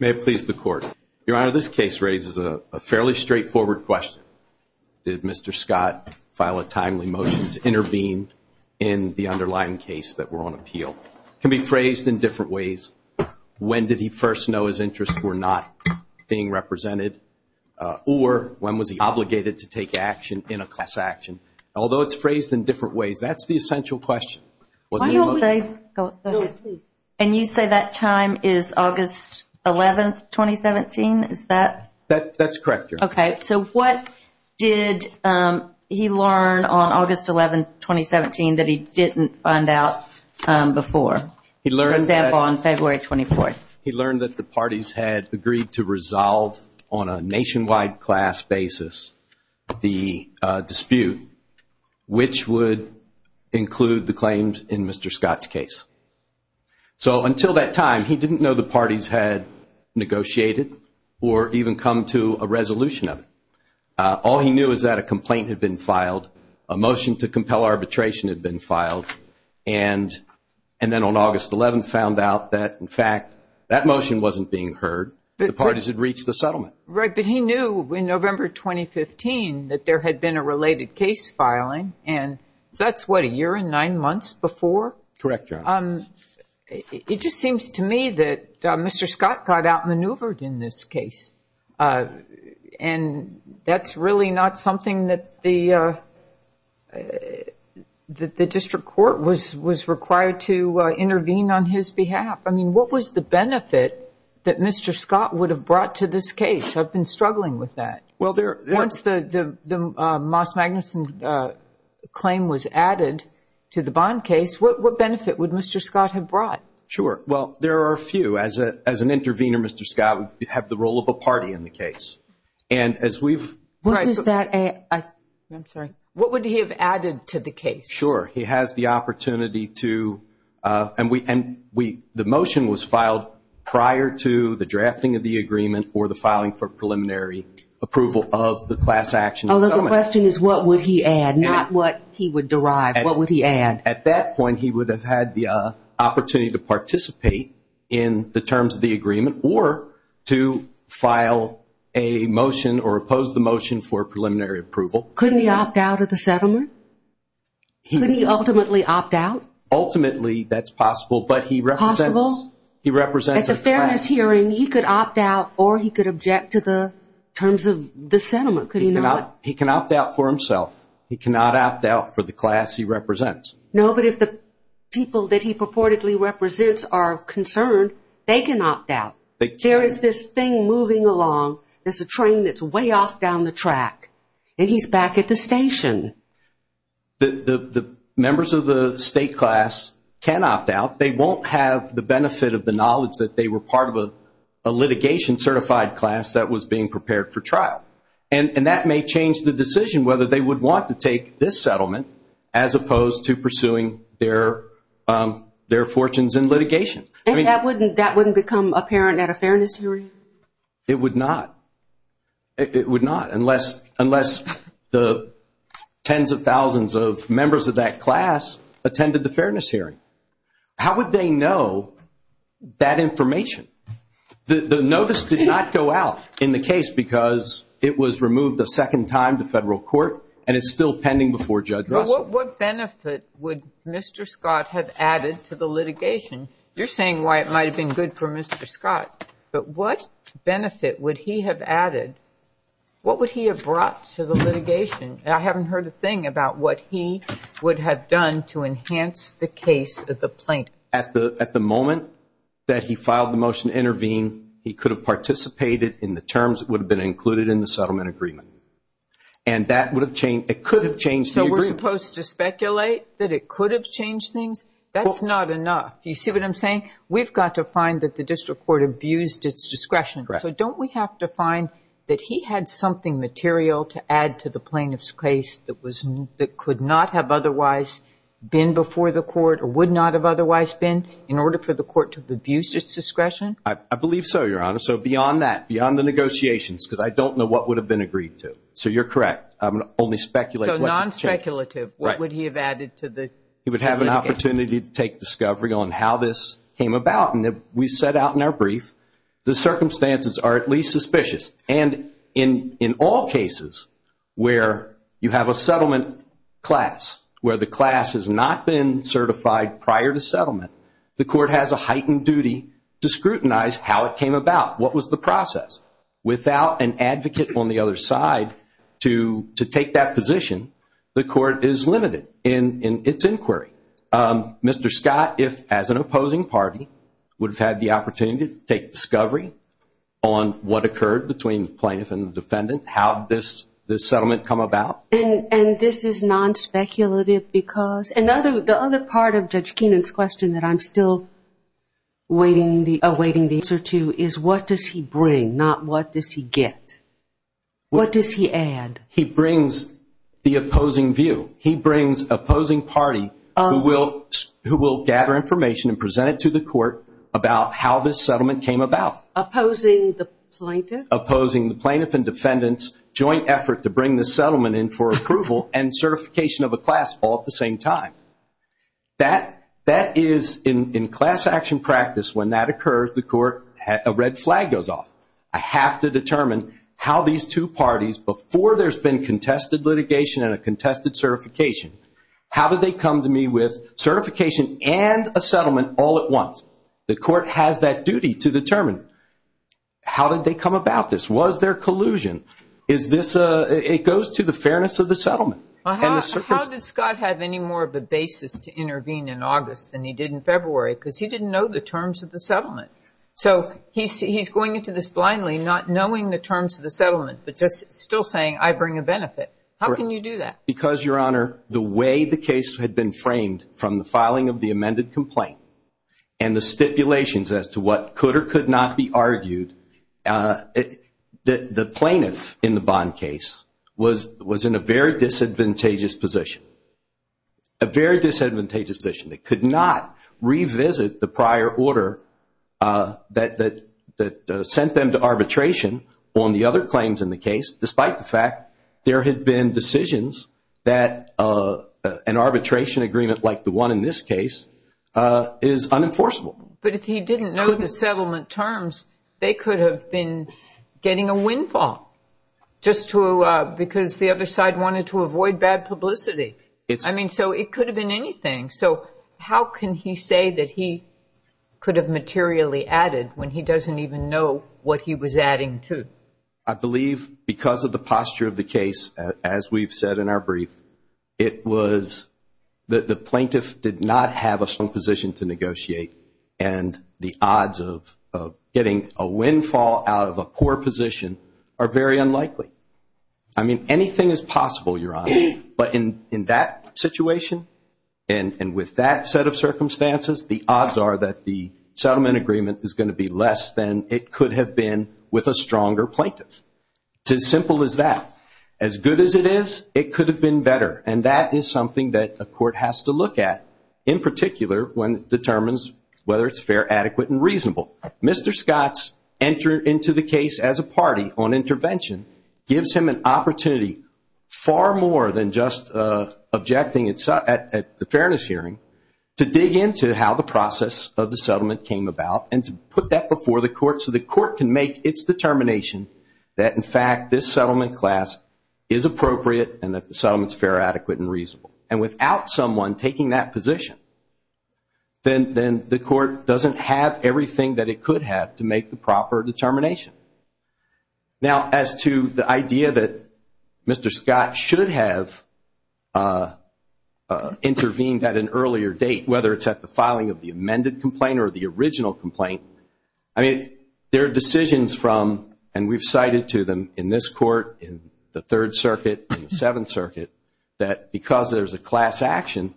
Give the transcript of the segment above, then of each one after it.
May it please the Court. Your Honor, this case raises a fairly straightforward question. Did Mr. Scott file a timely motion to intervene in the underlying case that we're on appeal? It can be phrased in different ways. When did he first know his interests were not being represented? Or when was he obligated to take action in a class action? Although it's phrased in different ways, that's the essential question. And you say that time is August 11, 2017, is that? That's correct, Your Honor. Okay, so what did he learn on August 11, 2017 that he didn't find out before? He learned that... For example, on February 24th. He learned that the parties had agreed to resolve on a nationwide class basis the dispute, which would include the claims in Mr. Scott's case. So until that time, he didn't know the parties had negotiated or even come to a resolution of it. All he knew is that a complaint had been filed, a motion to compel arbitration had been filed, and then on August 11 found out that, in fact, that motion wasn't being heard. The parties had reached the settlement. Right, but he knew in November 2015 that there had been a related case filing, and that's, what, a year and nine months before? Correct, Your Honor. It just seems to me that Mr. Scott got outmaneuvered in this case, and that's really not something that the district court was required to intervene on his behalf. I mean, what was the benefit that Mr. Scott would have brought to this case? I've been struggling with that. Once the Moss-Magnuson claim was added to the Bond case, what benefit would Mr. Scott have brought? Sure. Well, there are a few. As an intervener, Mr. Scott would have the role of a party in the case. And as we've... What does that... I'm sorry. What would he have added to the case? Sure. He has the opportunity to... And the motion was filed prior to the drafting of the agreement or the filing for preliminary approval of the class action settlement. The question is what would he add, not what he would derive. What would he add? At that point, he would have had the opportunity to participate in the terms of the agreement or to file a motion or oppose the motion for preliminary approval. Couldn't he opt out of the settlement? Couldn't he ultimately opt out? Ultimately, that's possible, but he represents... Possible? He represents a class. At the fairness hearing, he could opt out or he could object to the terms of the settlement. Could he not? He can opt out for himself. He cannot opt out for the class he represents. No, but if the people that he purportedly represents are concerned, they can opt out. They can. There is this thing moving along. There's a train that's way off down the track, and he's back at the station. The members of the state class can opt out. They won't have the benefit of the knowledge that they were part of a litigation certified class that was being prepared for trial, and that may change the decision whether they would want to take this settlement as opposed to pursuing their fortunes in litigation. That wouldn't become apparent at a fairness hearing? It would not. It would not unless the tens of thousands of members of that class attended the fairness hearing. How would they know that information? The notice did not go out in the case because it was removed a second time to federal court, and it's still pending before Judge Russell. What benefit would Mr. Scott have added to the litigation? You're saying why it might have been good for Mr. Scott. But what benefit would he have added? What would he have brought to the litigation? I haven't heard a thing about what he would have done to enhance the case of the plaintiffs. At the moment that he filed the motion to intervene, he could have participated in the terms that would have been included in the settlement agreement, and that would have changed. It could have changed the agreement. So we're supposed to speculate that it could have changed things? That's not enough. Do you see what I'm saying? We've got to find that the district court abused its discretion. Correct. So don't we have to find that he had something material to add to the plaintiff's case that could not have otherwise been before the court or would not have otherwise been in order for the court to abuse its discretion? I believe so, Your Honor. So beyond that, beyond the negotiations, because I don't know what would have been agreed to. So you're correct. I'm only speculating. So non-speculative. Right. What would he have added to the litigation? He would have an opportunity to take discovery on how this came about. And we set out in our brief the circumstances are at least suspicious. And in all cases where you have a settlement class, where the class has not been certified prior to settlement, the court has a heightened duty to scrutinize how it came about, what was the process. Without an advocate on the other side to take that position, the court is limited in its inquiry. Mr. Scott, if, as an opposing party, would have had the opportunity to take discovery on what occurred between the plaintiff and the defendant, how did this settlement come about? And this is non-speculative because another part of Judge Keenan's question that I'm still awaiting the answer to is what does he bring, not what does he get? What does he add? He brings the opposing view. He brings opposing party who will gather information and present it to the court about how this settlement came about. Opposing the plaintiff? Opposing the plaintiff and defendant's joint effort to bring this settlement in for approval and certification of a class all at the same time. That is, in class action practice, when that occurs, the court, a red flag goes off. I have to determine how these two parties, before there's been contested litigation and a contested certification, how did they come to me with certification and a settlement all at once? The court has that duty to determine. How did they come about this? Was there collusion? It goes to the fairness of the settlement. How did Scott have any more of a basis to intervene in August than he did in February? Because he didn't know the terms of the settlement. So he's going into this blindly, not knowing the terms of the settlement, but just still saying, I bring a benefit. How can you do that? Because, Your Honor, the way the case had been framed from the filing of the amended complaint and the stipulations as to what could or could not be argued, the plaintiff in the Bond case was in a very disadvantageous position, a very disadvantageous position. They could not revisit the prior order that sent them to arbitration on the other claims in the case, despite the fact there had been decisions that an arbitration agreement like the one in this case is unenforceable. But if he didn't know the settlement terms, they could have been getting a windfall, just because the other side wanted to avoid bad publicity. I mean, so it could have been anything. So how can he say that he could have materially added when he doesn't even know what he was adding to? I believe because of the posture of the case, as we've said in our brief, it was that the plaintiff did not have a strong position to negotiate and the odds of getting a windfall out of a poor position are very unlikely. I mean, anything is possible, Your Honor, but in that situation and with that set of circumstances, the odds are that the settlement agreement is going to be less than it could have been with a stronger plaintiff. It's as simple as that. As good as it is, it could have been better, and that is something that a court has to look at, in particular when it determines whether it's fair, adequate, and reasonable. Mr. Scott's entry into the case as a party on intervention gives him an opportunity, far more than just objecting at the fairness hearing, to dig into how the process of the settlement came about and to put that before the court so the court can make its determination that, in fact, this settlement class is appropriate and that the settlements fair, adequate, and reasonable. And without someone taking that position, then the court doesn't have everything that it could have to make the proper determination. Now, as to the idea that Mr. Scott should have intervened at an earlier date, whether it's at the filing of the amended complaint or the original complaint, I mean, there are decisions from, and we've cited to them in this court, in the Third Circuit, in the Seventh Circuit, that because there's a class action,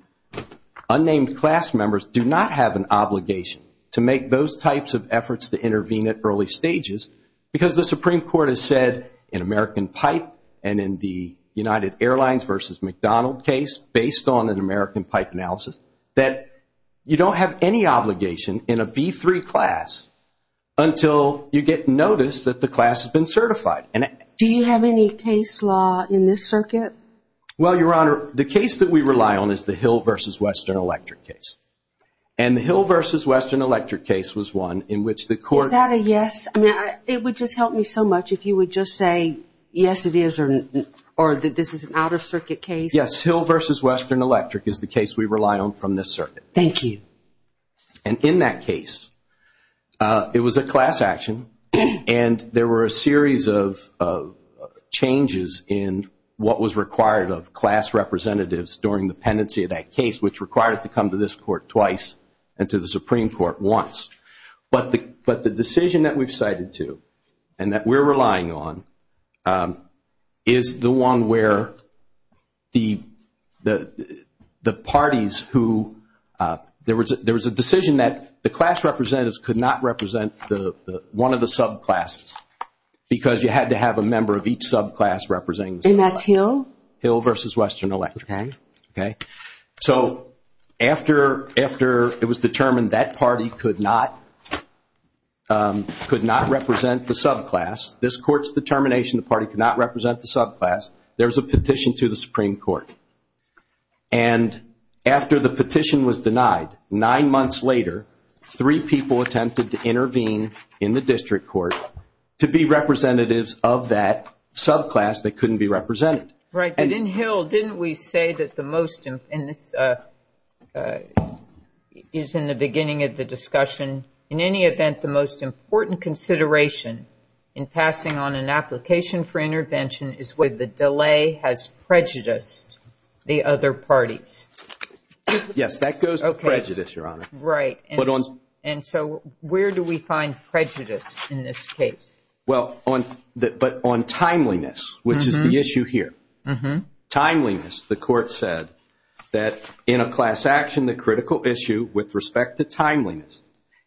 unnamed class members do not have an obligation to make those types of efforts to intervene at early stages because the Supreme Court has said in American Pipe and in the United Airlines versus McDonald case, based on an American Pipe analysis, that you don't have any obligation in a B-3 class until you get notice that the class has been certified. Do you have any case law in this circuit? Well, Your Honor, the case that we rely on is the Hill versus Western Electric case. And the Hill versus Western Electric case was one in which the court – Is that a yes? I mean, it would just help me so much if you would just say, yes, it is, or that this is an out-of-circuit case. Yes, Hill versus Western Electric is the case we rely on from this circuit. Thank you. And in that case, it was a class action, and there were a series of changes in what was required of class representatives during the pendency of that case, which required it to come to this court twice and to the Supreme Court once. But the decision that we've cited to and that we're relying on is the one where the parties who – there was a decision that the class representatives could not represent one of the subclasses because you had to have a member of each subclass representing the subclass. And that's Hill? Hill versus Western Electric. Okay. So after it was determined that party could not represent the subclass, this court's determination the party could not represent the subclass, there was a petition to the Supreme Court. And after the petition was denied, nine months later, three people attempted to intervene in the district court to be representatives of that subclass that couldn't be represented. Right. But in Hill, didn't we say that the most – and this is in the beginning of the discussion – in any event, the most important consideration in passing on an application for intervention is whether the delay has prejudiced the other parties. Yes, that goes with prejudice, Your Honor. Right. And so where do we find prejudice in this case? Well, on – but on timeliness, which is the issue here. Timeliness, the court said that in a class action, the critical issue with respect to timeliness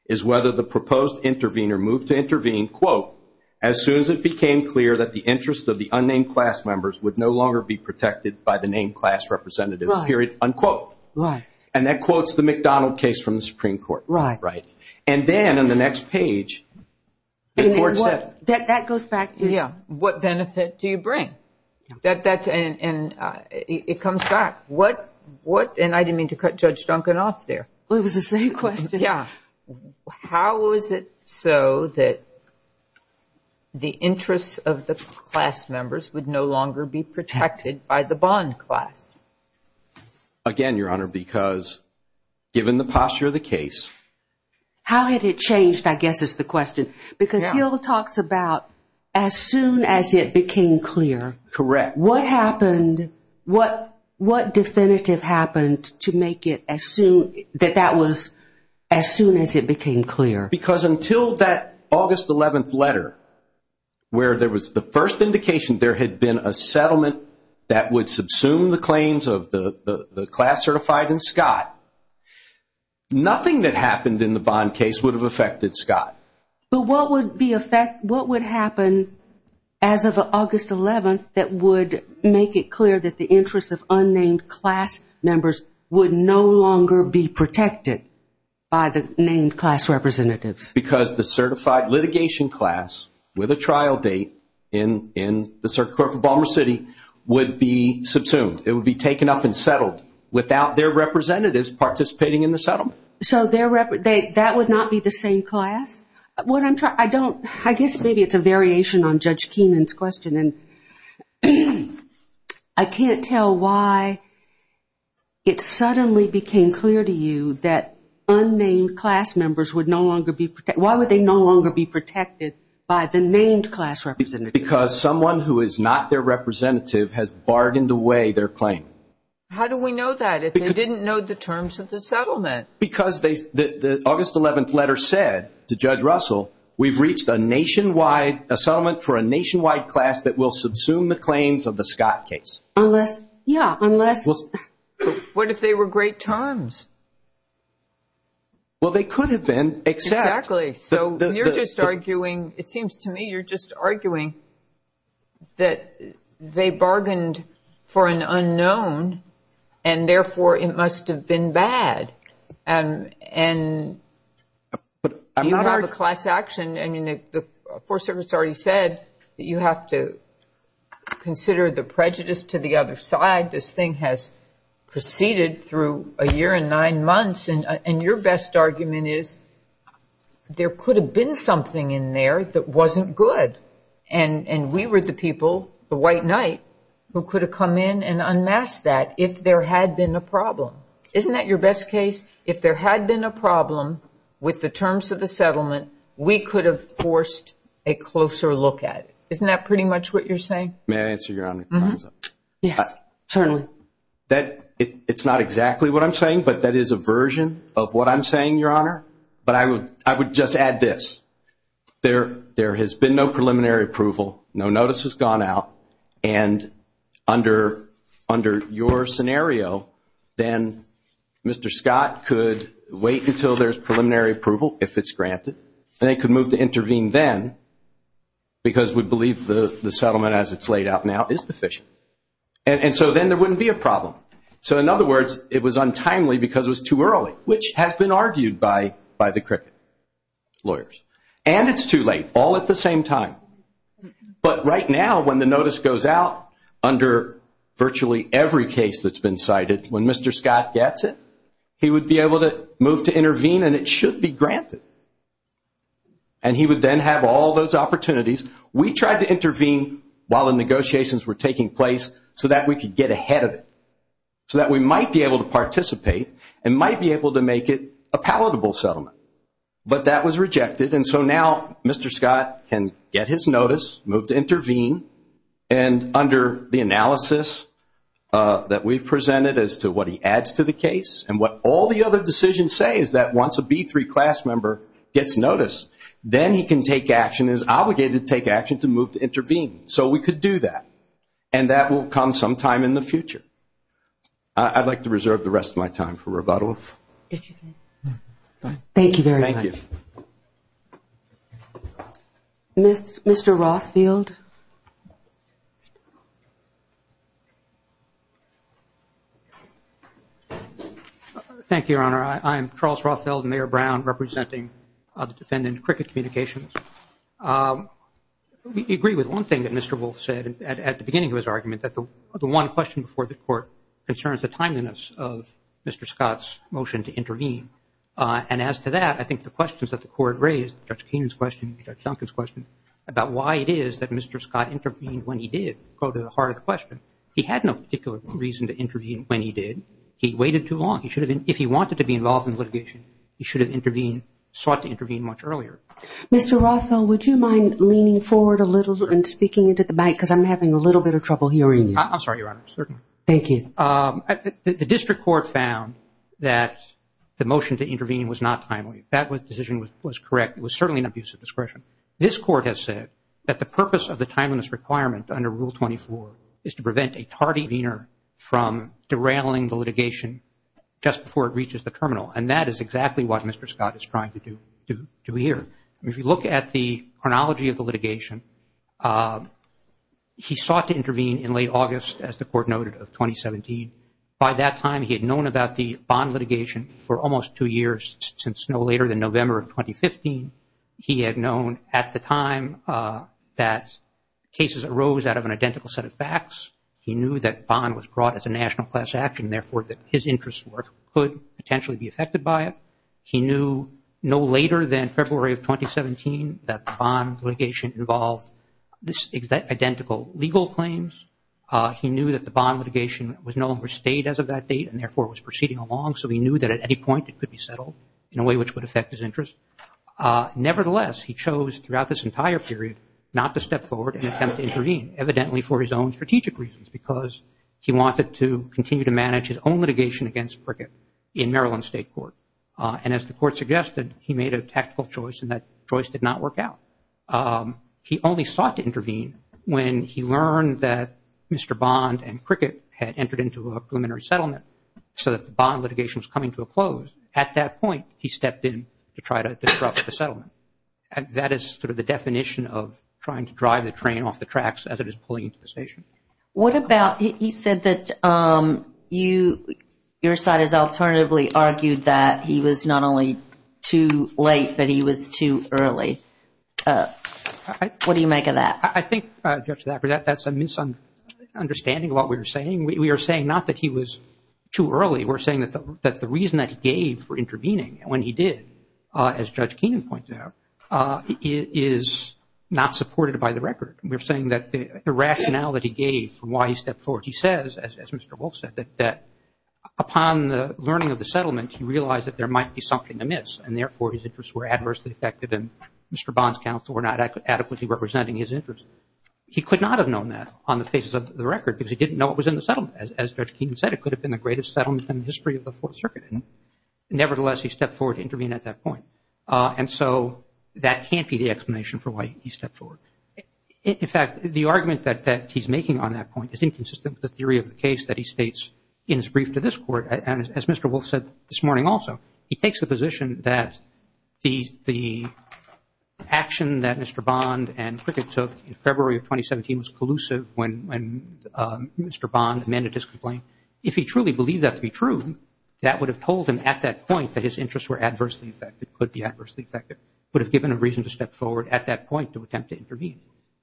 is whether the proposed intervener moved to intervene, quote, as soon as it became clear that the interest of the unnamed class members would no longer be protected by the named class representatives, period, unquote. Right. And that quotes the McDonald case from the Supreme Court. Right. Right. And then on the next page, the court said – That goes back to – Yeah. What benefit do you bring? And it comes back. What – and I didn't mean to cut Judge Duncan off there. It was the same question. Yeah. How is it so that the interests of the class members would no longer be protected by the bond class? Again, Your Honor, because given the posture of the case – How had it changed, I guess, is the question. Yeah. Because Hill talks about as soon as it became clear. Correct. What happened – what definitive happened to make it as soon – that that was as soon as it became clear? Because until that August 11th letter where there was the first indication there had been a settlement that would subsume the claims of the class certified in Scott, nothing that happened in the bond case would have affected Scott. But what would be – what would happen as of August 11th that would make it clear that the interests of unnamed class members would no longer be protected by the named class representatives? Because the certified litigation class with a trial date in the circuit court for Balmer City would be subsumed. It would be taken up and settled without their representatives participating in the settlement. So their – that would not be the same class? What I'm – I don't – I guess maybe it's a variation on Judge Keenan's question. And I can't tell why it suddenly became clear to you that unnamed class members would no longer be – why would they no longer be protected by the named class representatives? Because someone who is not their representative has bargained away their claim. How do we know that if they didn't know the terms of the settlement? Because they – the August 11th letter said to Judge Russell, we've reached a nationwide – a settlement for a nationwide class that will subsume the claims of the Scott case. Unless – yeah, unless – What if they were great terms? Well, they could have been, except – Exactly. So you're just arguing – it seems to me you're just arguing that they bargained for an unknown and therefore it must have been bad. And you have a class action. I mean, the Fourth Circuit's already said that you have to consider the prejudice to the other side. This thing has proceeded through a year and nine months. And your best argument is there could have been something in there that wasn't good. And we were the people, the white knight, who could have come in and unmasked that if there had been a problem. Isn't that your best case? If there had been a problem with the terms of the settlement, we could have forced a closer look at it. Isn't that pretty much what you're saying? May I answer your honor's question? Yes, certainly. It's not exactly what I'm saying, but that is a version of what I'm saying, your honor. But I would just add this. There has been no preliminary approval. No notice has gone out. And under your scenario, then Mr. Scott could wait until there's preliminary approval, if it's granted, and they could move to intervene then because we believe the settlement as it's laid out now is deficient. So in other words, it was untimely because it was too early, which has been argued by the cricket lawyers. And it's too late, all at the same time. But right now when the notice goes out under virtually every case that's been cited, when Mr. Scott gets it, he would be able to move to intervene and it should be granted. And he would then have all those opportunities. We tried to intervene while the negotiations were taking place so that we could get ahead of it, so that we might be able to participate and might be able to make it a palatable settlement. But that was rejected, and so now Mr. Scott can get his notice, move to intervene, and under the analysis that we've presented as to what he adds to the case and what all the other decisions say is that once a B3 class member gets notice, then he can take action and is obligated to take action to move to intervene. So we could do that, and that will come sometime in the future. I'd like to reserve the rest of my time for rebuttal. Thank you very much. Thank you. Mr. Rothfield. Thank you, Your Honor. I am Charles Rothfield, Mayor Brown, representing the defendant, Cricket Communications. We agree with one thing that Mr. Wolf said at the beginning of his argument, that the one question before the Court concerns the timeliness of Mr. Scott's motion to intervene. And as to that, I think the questions that the Court raised, Judge Keenan's question, Mr. Scott intervened when he did, go to the heart of the question. He had no particular reason to intervene when he did. He waited too long. If he wanted to be involved in litigation, he should have intervened, sought to intervene much earlier. Mr. Rothfield, would you mind leaning forward a little and speaking into the mic, because I'm having a little bit of trouble hearing you. I'm sorry, Your Honor, certainly. Thank you. The district court found that the motion to intervene was not timely. That decision was correct. It was certainly an abuse of discretion. This Court has said that the purpose of the timeliness requirement under Rule 24 is to prevent a tardy intervener from derailing the litigation just before it reaches the terminal. And that is exactly what Mr. Scott is trying to do here. If you look at the chronology of the litigation, he sought to intervene in late August, as the Court noted, of 2017. By that time he had known about the bond litigation for almost two years, since no later than November of 2015. He had known at the time that cases arose out of an identical set of facts. He knew that bond was brought as a national class action, therefore that his interests could potentially be affected by it. He knew no later than February of 2017 that the bond litigation involved identical legal claims. He knew that the bond litigation was no longer stayed as of that date and, therefore, was proceeding along. So he knew that at any point it could be settled in a way which would affect his interests. Nevertheless, he chose throughout this entire period not to step forward and attempt to intervene, evidently for his own strategic reasons, because he wanted to continue to manage his own litigation against Cricket in Maryland State Court. And as the Court suggested, he made a tactical choice, and that choice did not work out. He only sought to intervene when he learned that Mr. Bond and Cricket had entered into a preliminary settlement, so that the bond litigation was coming to a close. At that point, he stepped in to try to disrupt the settlement. And that is sort of the definition of trying to drive the train off the tracks as it is pulling into the station. What about, he said that you, your side has alternatively argued that he was not only too late, but he was too early. What do you make of that? I think, Judge Thacker, that that's a misunderstanding of what we're saying. We are saying not that he was too early. We're saying that the reason that he gave for intervening when he did, as Judge Keenan pointed out, is not supported by the record. We're saying that the rationale that he gave for why he stepped forward, he says, as Mr. Wolf said, that upon the learning of the settlement, he realized that there might be something amiss, and therefore his interests were adversely affected, and Mr. Bond's counsel were not adequately representing his interests. He could not have known that on the basis of the record because he didn't know what was in the settlement. As Judge Keenan said, it could have been the greatest settlement in the history of the Fourth Circuit. Nevertheless, he stepped forward to intervene at that point. And so that can't be the explanation for why he stepped forward. In fact, the argument that he's making on that point is inconsistent with the theory of the case that he states in his brief to this Court, and as Mr. Wolf said this morning also, he takes the position that the action that Mr. Bond and Cricket took in February of 2017 was collusive when Mr. Bond amended his complaint. If he truly believed that to be true, that would have told him at that point that his interests were adversely affected, could be adversely affected, would have given him reason to step forward at that point to attempt to intervene.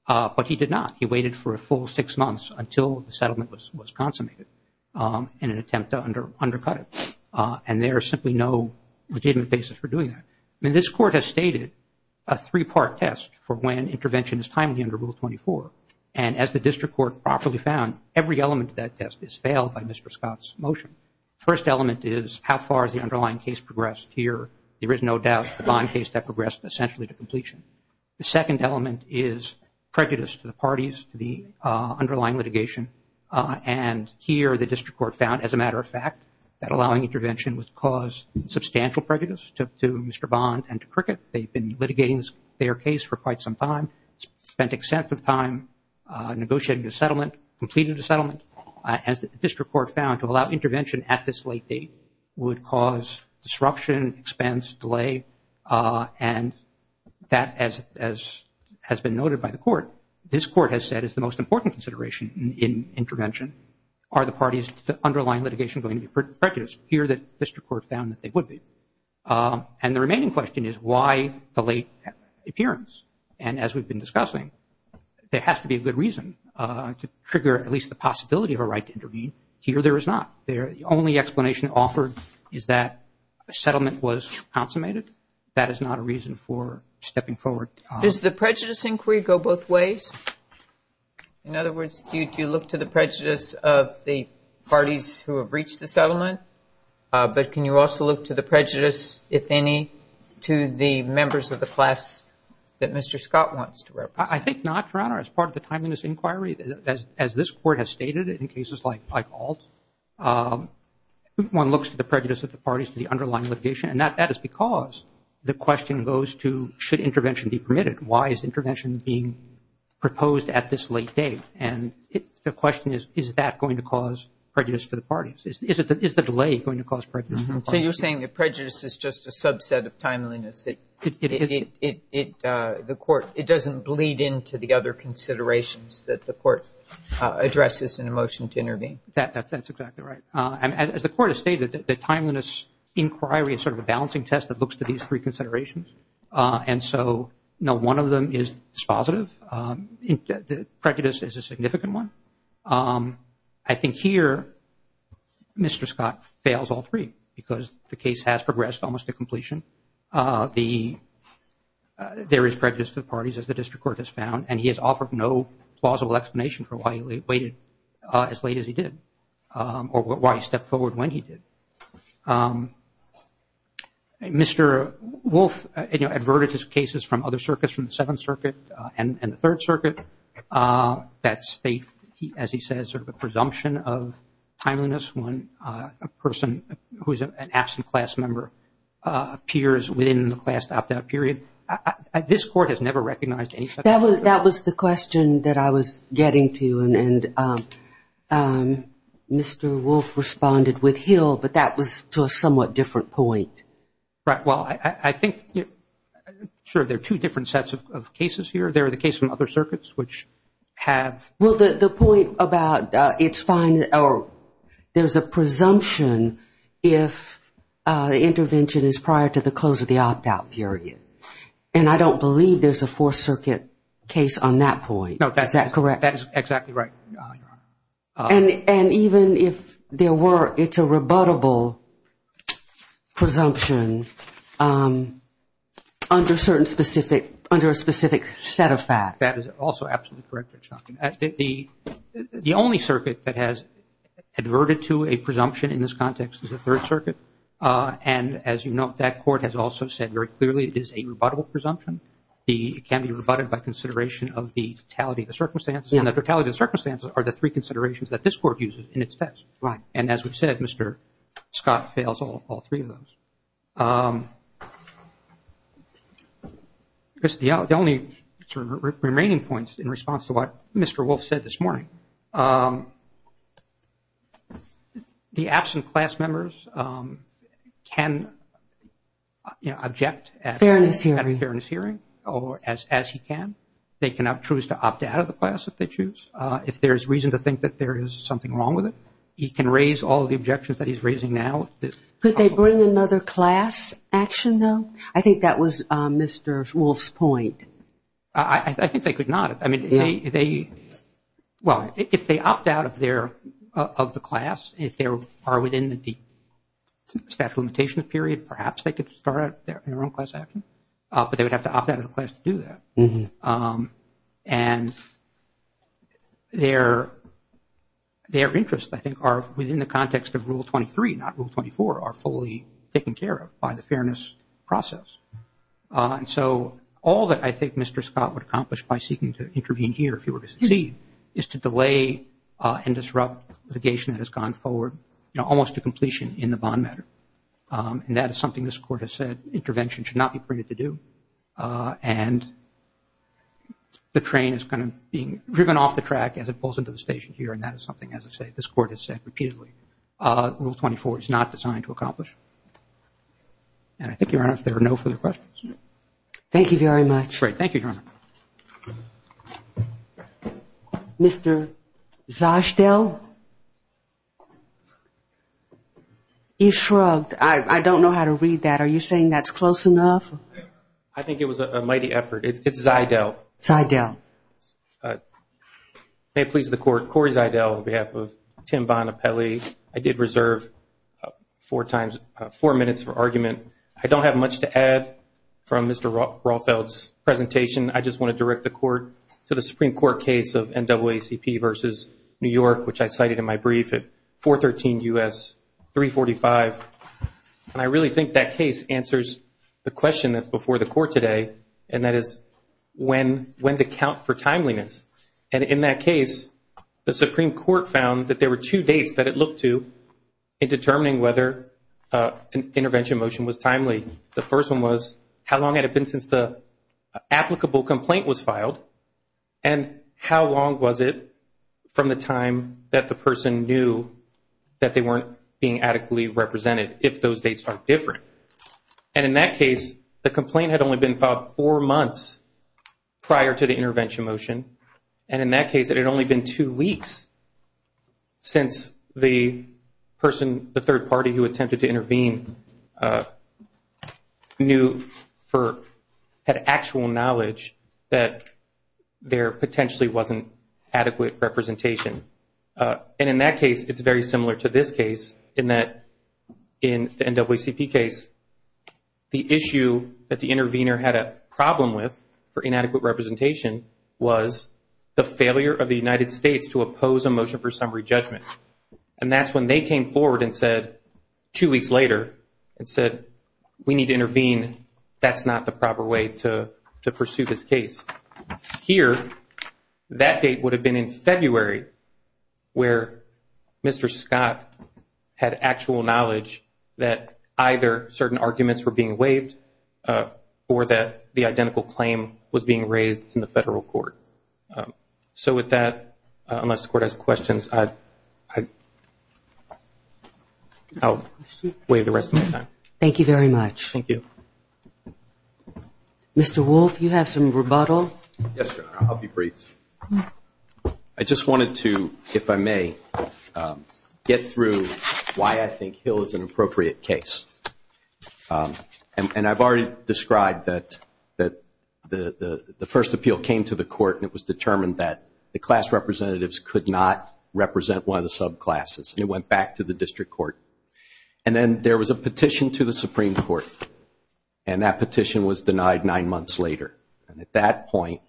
But he did not. He waited for a full six months until the settlement was consummated in an attempt to undercut it. And there is simply no legitimate basis for doing that. I mean, this Court has stated a three-part test for when intervention is timely under Rule 24. And as the district court properly found, every element of that test is failed by Mr. Scott's motion. The first element is how far has the underlying case progressed here. There is no doubt the Bond case that progressed essentially to completion. The second element is prejudice to the parties, to the underlying litigation. And here the district court found, as a matter of fact, that allowing intervention would cause substantial prejudice to Mr. Bond and to Cricket. They've been litigating their case for quite some time, spent extensive time negotiating the settlement, completing the settlement. As the district court found, to allow intervention at this late date would cause disruption, expense, delay. And that, as has been noted by the Court, this Court has said is the most important consideration in intervention. Are the parties to the underlying litigation going to be prejudiced? Here the district court found that they would be. And the remaining question is why the late appearance? And as we've been discussing, there has to be a good reason to trigger at least the possibility of a right to intervene. Here there is not. The only explanation offered is that a settlement was consummated. That is not a reason for stepping forward. Does the prejudice inquiry go both ways? In other words, do you look to the prejudice of the parties who have reached the settlement? But can you also look to the prejudice, if any, to the members of the class that Mr. Scott wants to represent? I think not, Your Honor. As part of the timeliness inquiry, as this Court has stated in cases like Alt, one looks to the prejudice of the parties to the underlying litigation. And that is because the question goes to should intervention be permitted? Why is intervention being proposed at this late date? And the question is, is that going to cause prejudice to the parties? Is the delay going to cause prejudice to the parties? So you're saying that prejudice is just a subset of timeliness. It doesn't bleed into the other considerations that the Court addresses in a motion to intervene. That's exactly right. As the Court has stated, the timeliness inquiry is sort of a balancing test that looks to these three considerations. And so, no, one of them is dispositive. Prejudice is a significant one. I think here Mr. Scott fails all three because the case has progressed almost to completion. There is prejudice to the parties, as the District Court has found, and he has offered no plausible explanation for why he waited as late as he did or why he stepped forward when he did. Mr. Wolfe adverted his cases from other circuits, from the Seventh Circuit and the Third Circuit, that state, as he says, sort of a presumption of timeliness when a person who is an absent class member appears within the class opt-out period. This Court has never recognized any such presumption. That was the question that I was getting to, and Mr. Wolfe responded with hill, but that was to a somewhat different point. Right. Well, I think, sure, there are two different sets of cases here. There are the cases from other circuits, which have... Well, the point about it's fine or there's a presumption if the intervention is prior to the close of the opt-out period, and I don't believe there's a Fourth Circuit case on that point. Is that correct? That is exactly right, Your Honor. And even if there were, it's a rebuttable presumption under a specific set of facts. That is also absolutely correct, Your Honor. The only circuit that has adverted to a presumption in this context is the Third Circuit, and as you note, that Court has also said very clearly it is a rebuttable presumption. It can be rebutted by consideration of the totality of the circumstances, and the totality of the circumstances are the three considerations that this Court uses in its test. Right. And as we've said, Mr. Scott fails all three of those. The only remaining points in response to what Mr. Wolf said this morning, the absent class members can object at a fairness hearing as he can. They can choose to opt out of the class if they choose. If there's reason to think that there is something wrong with it, he can raise all the objections that he's raising now. Could they bring another class action, though? I think that was Mr. Wolf's point. I think they could not. Well, if they opt out of the class, if they are within the statute of limitations period, perhaps they could start their own class action, but they would have to opt out of the class to do that. And their interests, I think, are within the context of Rule 23, not Rule 24, are fully taken care of by the fairness process. And so all that I think Mr. Scott would accomplish by seeking to intervene here, if he were to succeed, is to delay and disrupt litigation that has gone forward almost to completion in the bond matter. And that is something this Court has said intervention should not be permitted to do. And the train is kind of being driven off the track as it pulls into the station here, and that is something, as I say, this Court has said repeatedly. Rule 24 is not designed to accomplish. And I think, Your Honor, if there are no further questions. Thank you very much. Great. Thank you, Your Honor. Mr. Zashtel? He shrugged. I don't know how to read that. Are you saying that's close enough? I think it was a mighty effort. It's Zydel. Zydel. May it please the Court, Corey Zydel on behalf of Tim Bonapelli. I did reserve four minutes for argument. I don't have much to add from Mr. Rothfeld's presentation. I just want to direct the Court to the Supreme Court case of NAACP versus New York, which I cited in my brief at 413 U.S. 345. And I really think that case answers the question that's before the Court today, and that is when to count for timeliness. And in that case, the Supreme Court found that there were two dates that it looked to in determining whether an intervention motion was timely. The first one was how long had it been since the applicable complaint was filed and how long was it from the time that the person knew that they weren't being adequately represented if those dates are different. And in that case, the complaint had only been filed four months prior to the intervention motion. And in that case, it had only been two weeks since the person, the third party, who attempted to intervene had actual knowledge that there potentially wasn't adequate representation. And in that case, it's very similar to this case in that in the NAACP case, the issue that the intervener had a problem with for inadequate representation was the failure of the United States to oppose a motion for summary judgment. And that's when they came forward and said, two weeks later, and said, we need to intervene, that's not the proper way to pursue this case. Here, that date would have been in February where Mr. Scott had actual knowledge that either certain arguments were being waived or that the identical claim was being raised in the federal court. So with that, unless the Court has questions, I'll waive the rest of my time. Thank you very much. Thank you. Mr. Wolfe, you have some rebuttal? Yes, I'll be brief. I just wanted to, if I may, get through why I think Hill is an appropriate case. And I've already described that the first appeal came to the Court and it was determined that the class representatives could not represent one of the subclasses, and it went back to the district court. And then there was a petition to the Supreme Court, and that petition was denied nine months later. And at that point,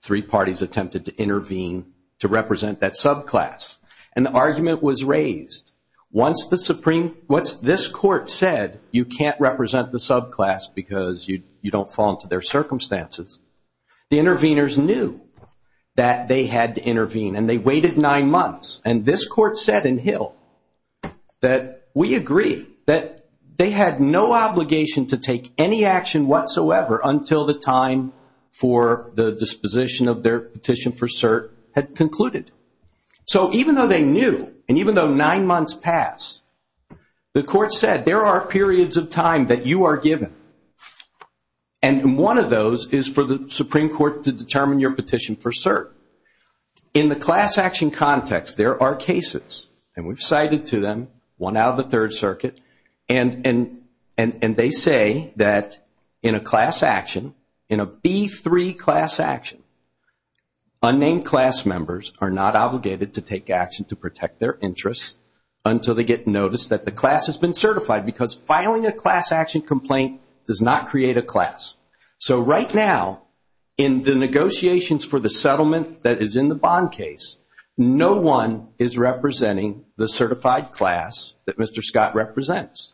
three parties attempted to intervene to represent that subclass. And the argument was raised. Once this Court said you can't represent the subclass because you don't fall into their circumstances, the interveners knew that they had to intervene, and they waited nine months. And this Court said in Hill that we agree that they had no obligation to take any action whatsoever until the time for the disposition of their petition for cert had concluded. So even though they knew, and even though nine months passed, the Court said there are periods of time that you are given, and one of those is for the Supreme Court to determine your petition for cert. In the class action context, there are cases, and we've cited to them, one out of the Third Circuit, and they say that in a class action, in a B3 class action, unnamed class members are not obligated to take action to protect their interests until they get notice that the class has been certified because filing a class action complaint does not create a class. So right now, in the negotiations for the settlement that is in the Bond case, no one is representing the certified class that Mr. Scott represents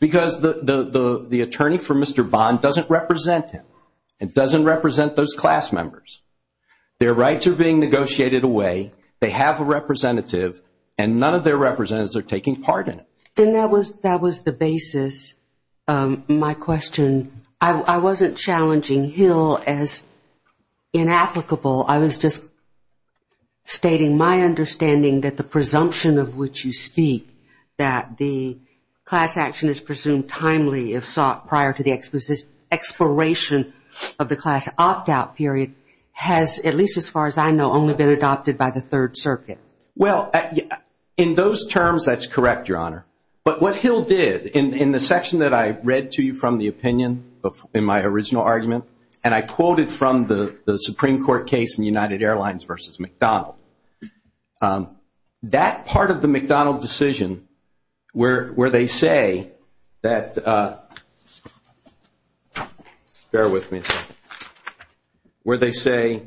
because the attorney for Mr. Bond doesn't represent him. It doesn't represent those class members. Their rights are being negotiated away. They have a representative, and none of their representatives are taking part in it. And that was the basis. My question, I wasn't challenging Hill as inapplicable. I was just stating my understanding that the presumption of which you speak, that the class action is presumed timely if sought prior to the expiration of the class opt-out period, has, at least as far as I know, only been adopted by the Third Circuit. Well, in those terms, that's correct, Your Honor. But what Hill did, in the section that I read to you from the opinion in my original argument, and I quoted from the Supreme Court case in United Airlines versus McDonald, that part of the McDonald decision where they say that, bear with me, where they say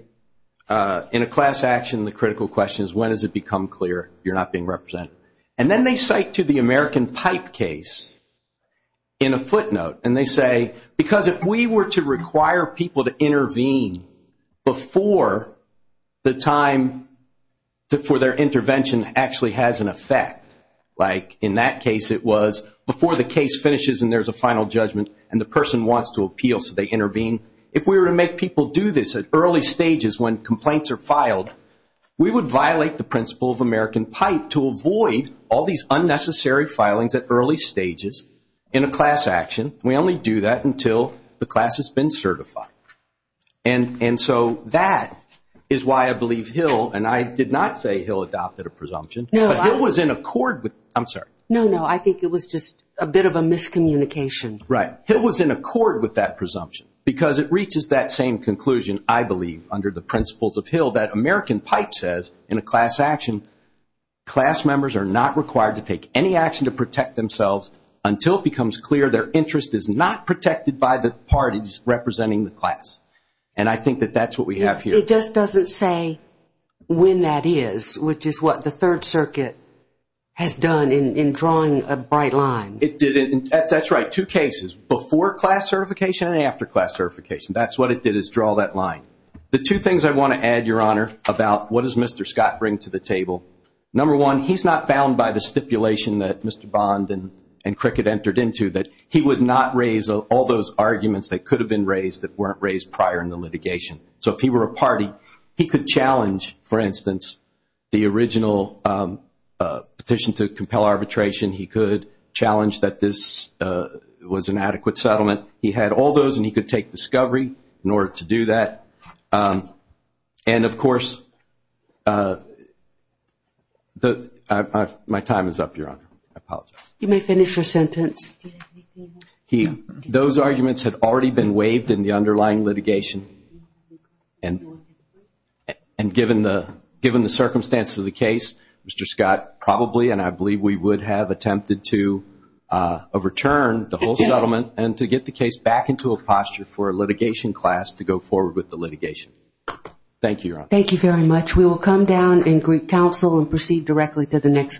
in a class action the critical question is when does it become clear you're not being represented. And then they cite to the American Pipe case in a footnote, and they say, because if we were to require people to intervene before the time for their intervention actually has an effect, like in that case it was before the case finishes and there's a final judgment and the person wants to appeal so they intervene, if we were to make people do this at early stages when complaints are filed, we would violate the principle of American Pipe to avoid all these unnecessary filings at early stages in a class action. We only do that until the class has been certified. And so that is why I believe Hill, and I did not say Hill adopted a presumption, but Hill was in accord with, I'm sorry. No, no, I think it was just a bit of a miscommunication. Right. Hill was in accord with that presumption because it reaches that same conclusion, I believe, under the principles of Hill that American Pipe says in a class action, class members are not required to take any action to protect themselves until it becomes clear their interest is not protected by the parties representing the class. And I think that that's what we have here. It just doesn't say when that is, which is what the Third Circuit has done in drawing a bright line. It didn't. That's right, two cases, before class certification and after class certification. That's what it did is draw that line. The two things I want to add, Your Honor, about what does Mr. Scott bring to the table, number one, he's not bound by the stipulation that Mr. Bond and Cricket entered into that he would not raise all those arguments that could have been raised that weren't raised prior in the litigation. So if he were a party, he could challenge, for instance, the original petition to compel arbitration. He could challenge that this was an adequate settlement. He had all those, and he could take discovery in order to do that. And, of course, my time is up, Your Honor. I apologize. You may finish your sentence. Those arguments had already been waived in the underlying litigation, and given the circumstances of the case, Mr. Scott probably, and I believe we would have, attempted to overturn the whole settlement and to get the case back into a posture for a litigation class to go forward with the litigation. Thank you, Your Honor. Thank you very much. We will come down and greet counsel and proceed directly to the next case.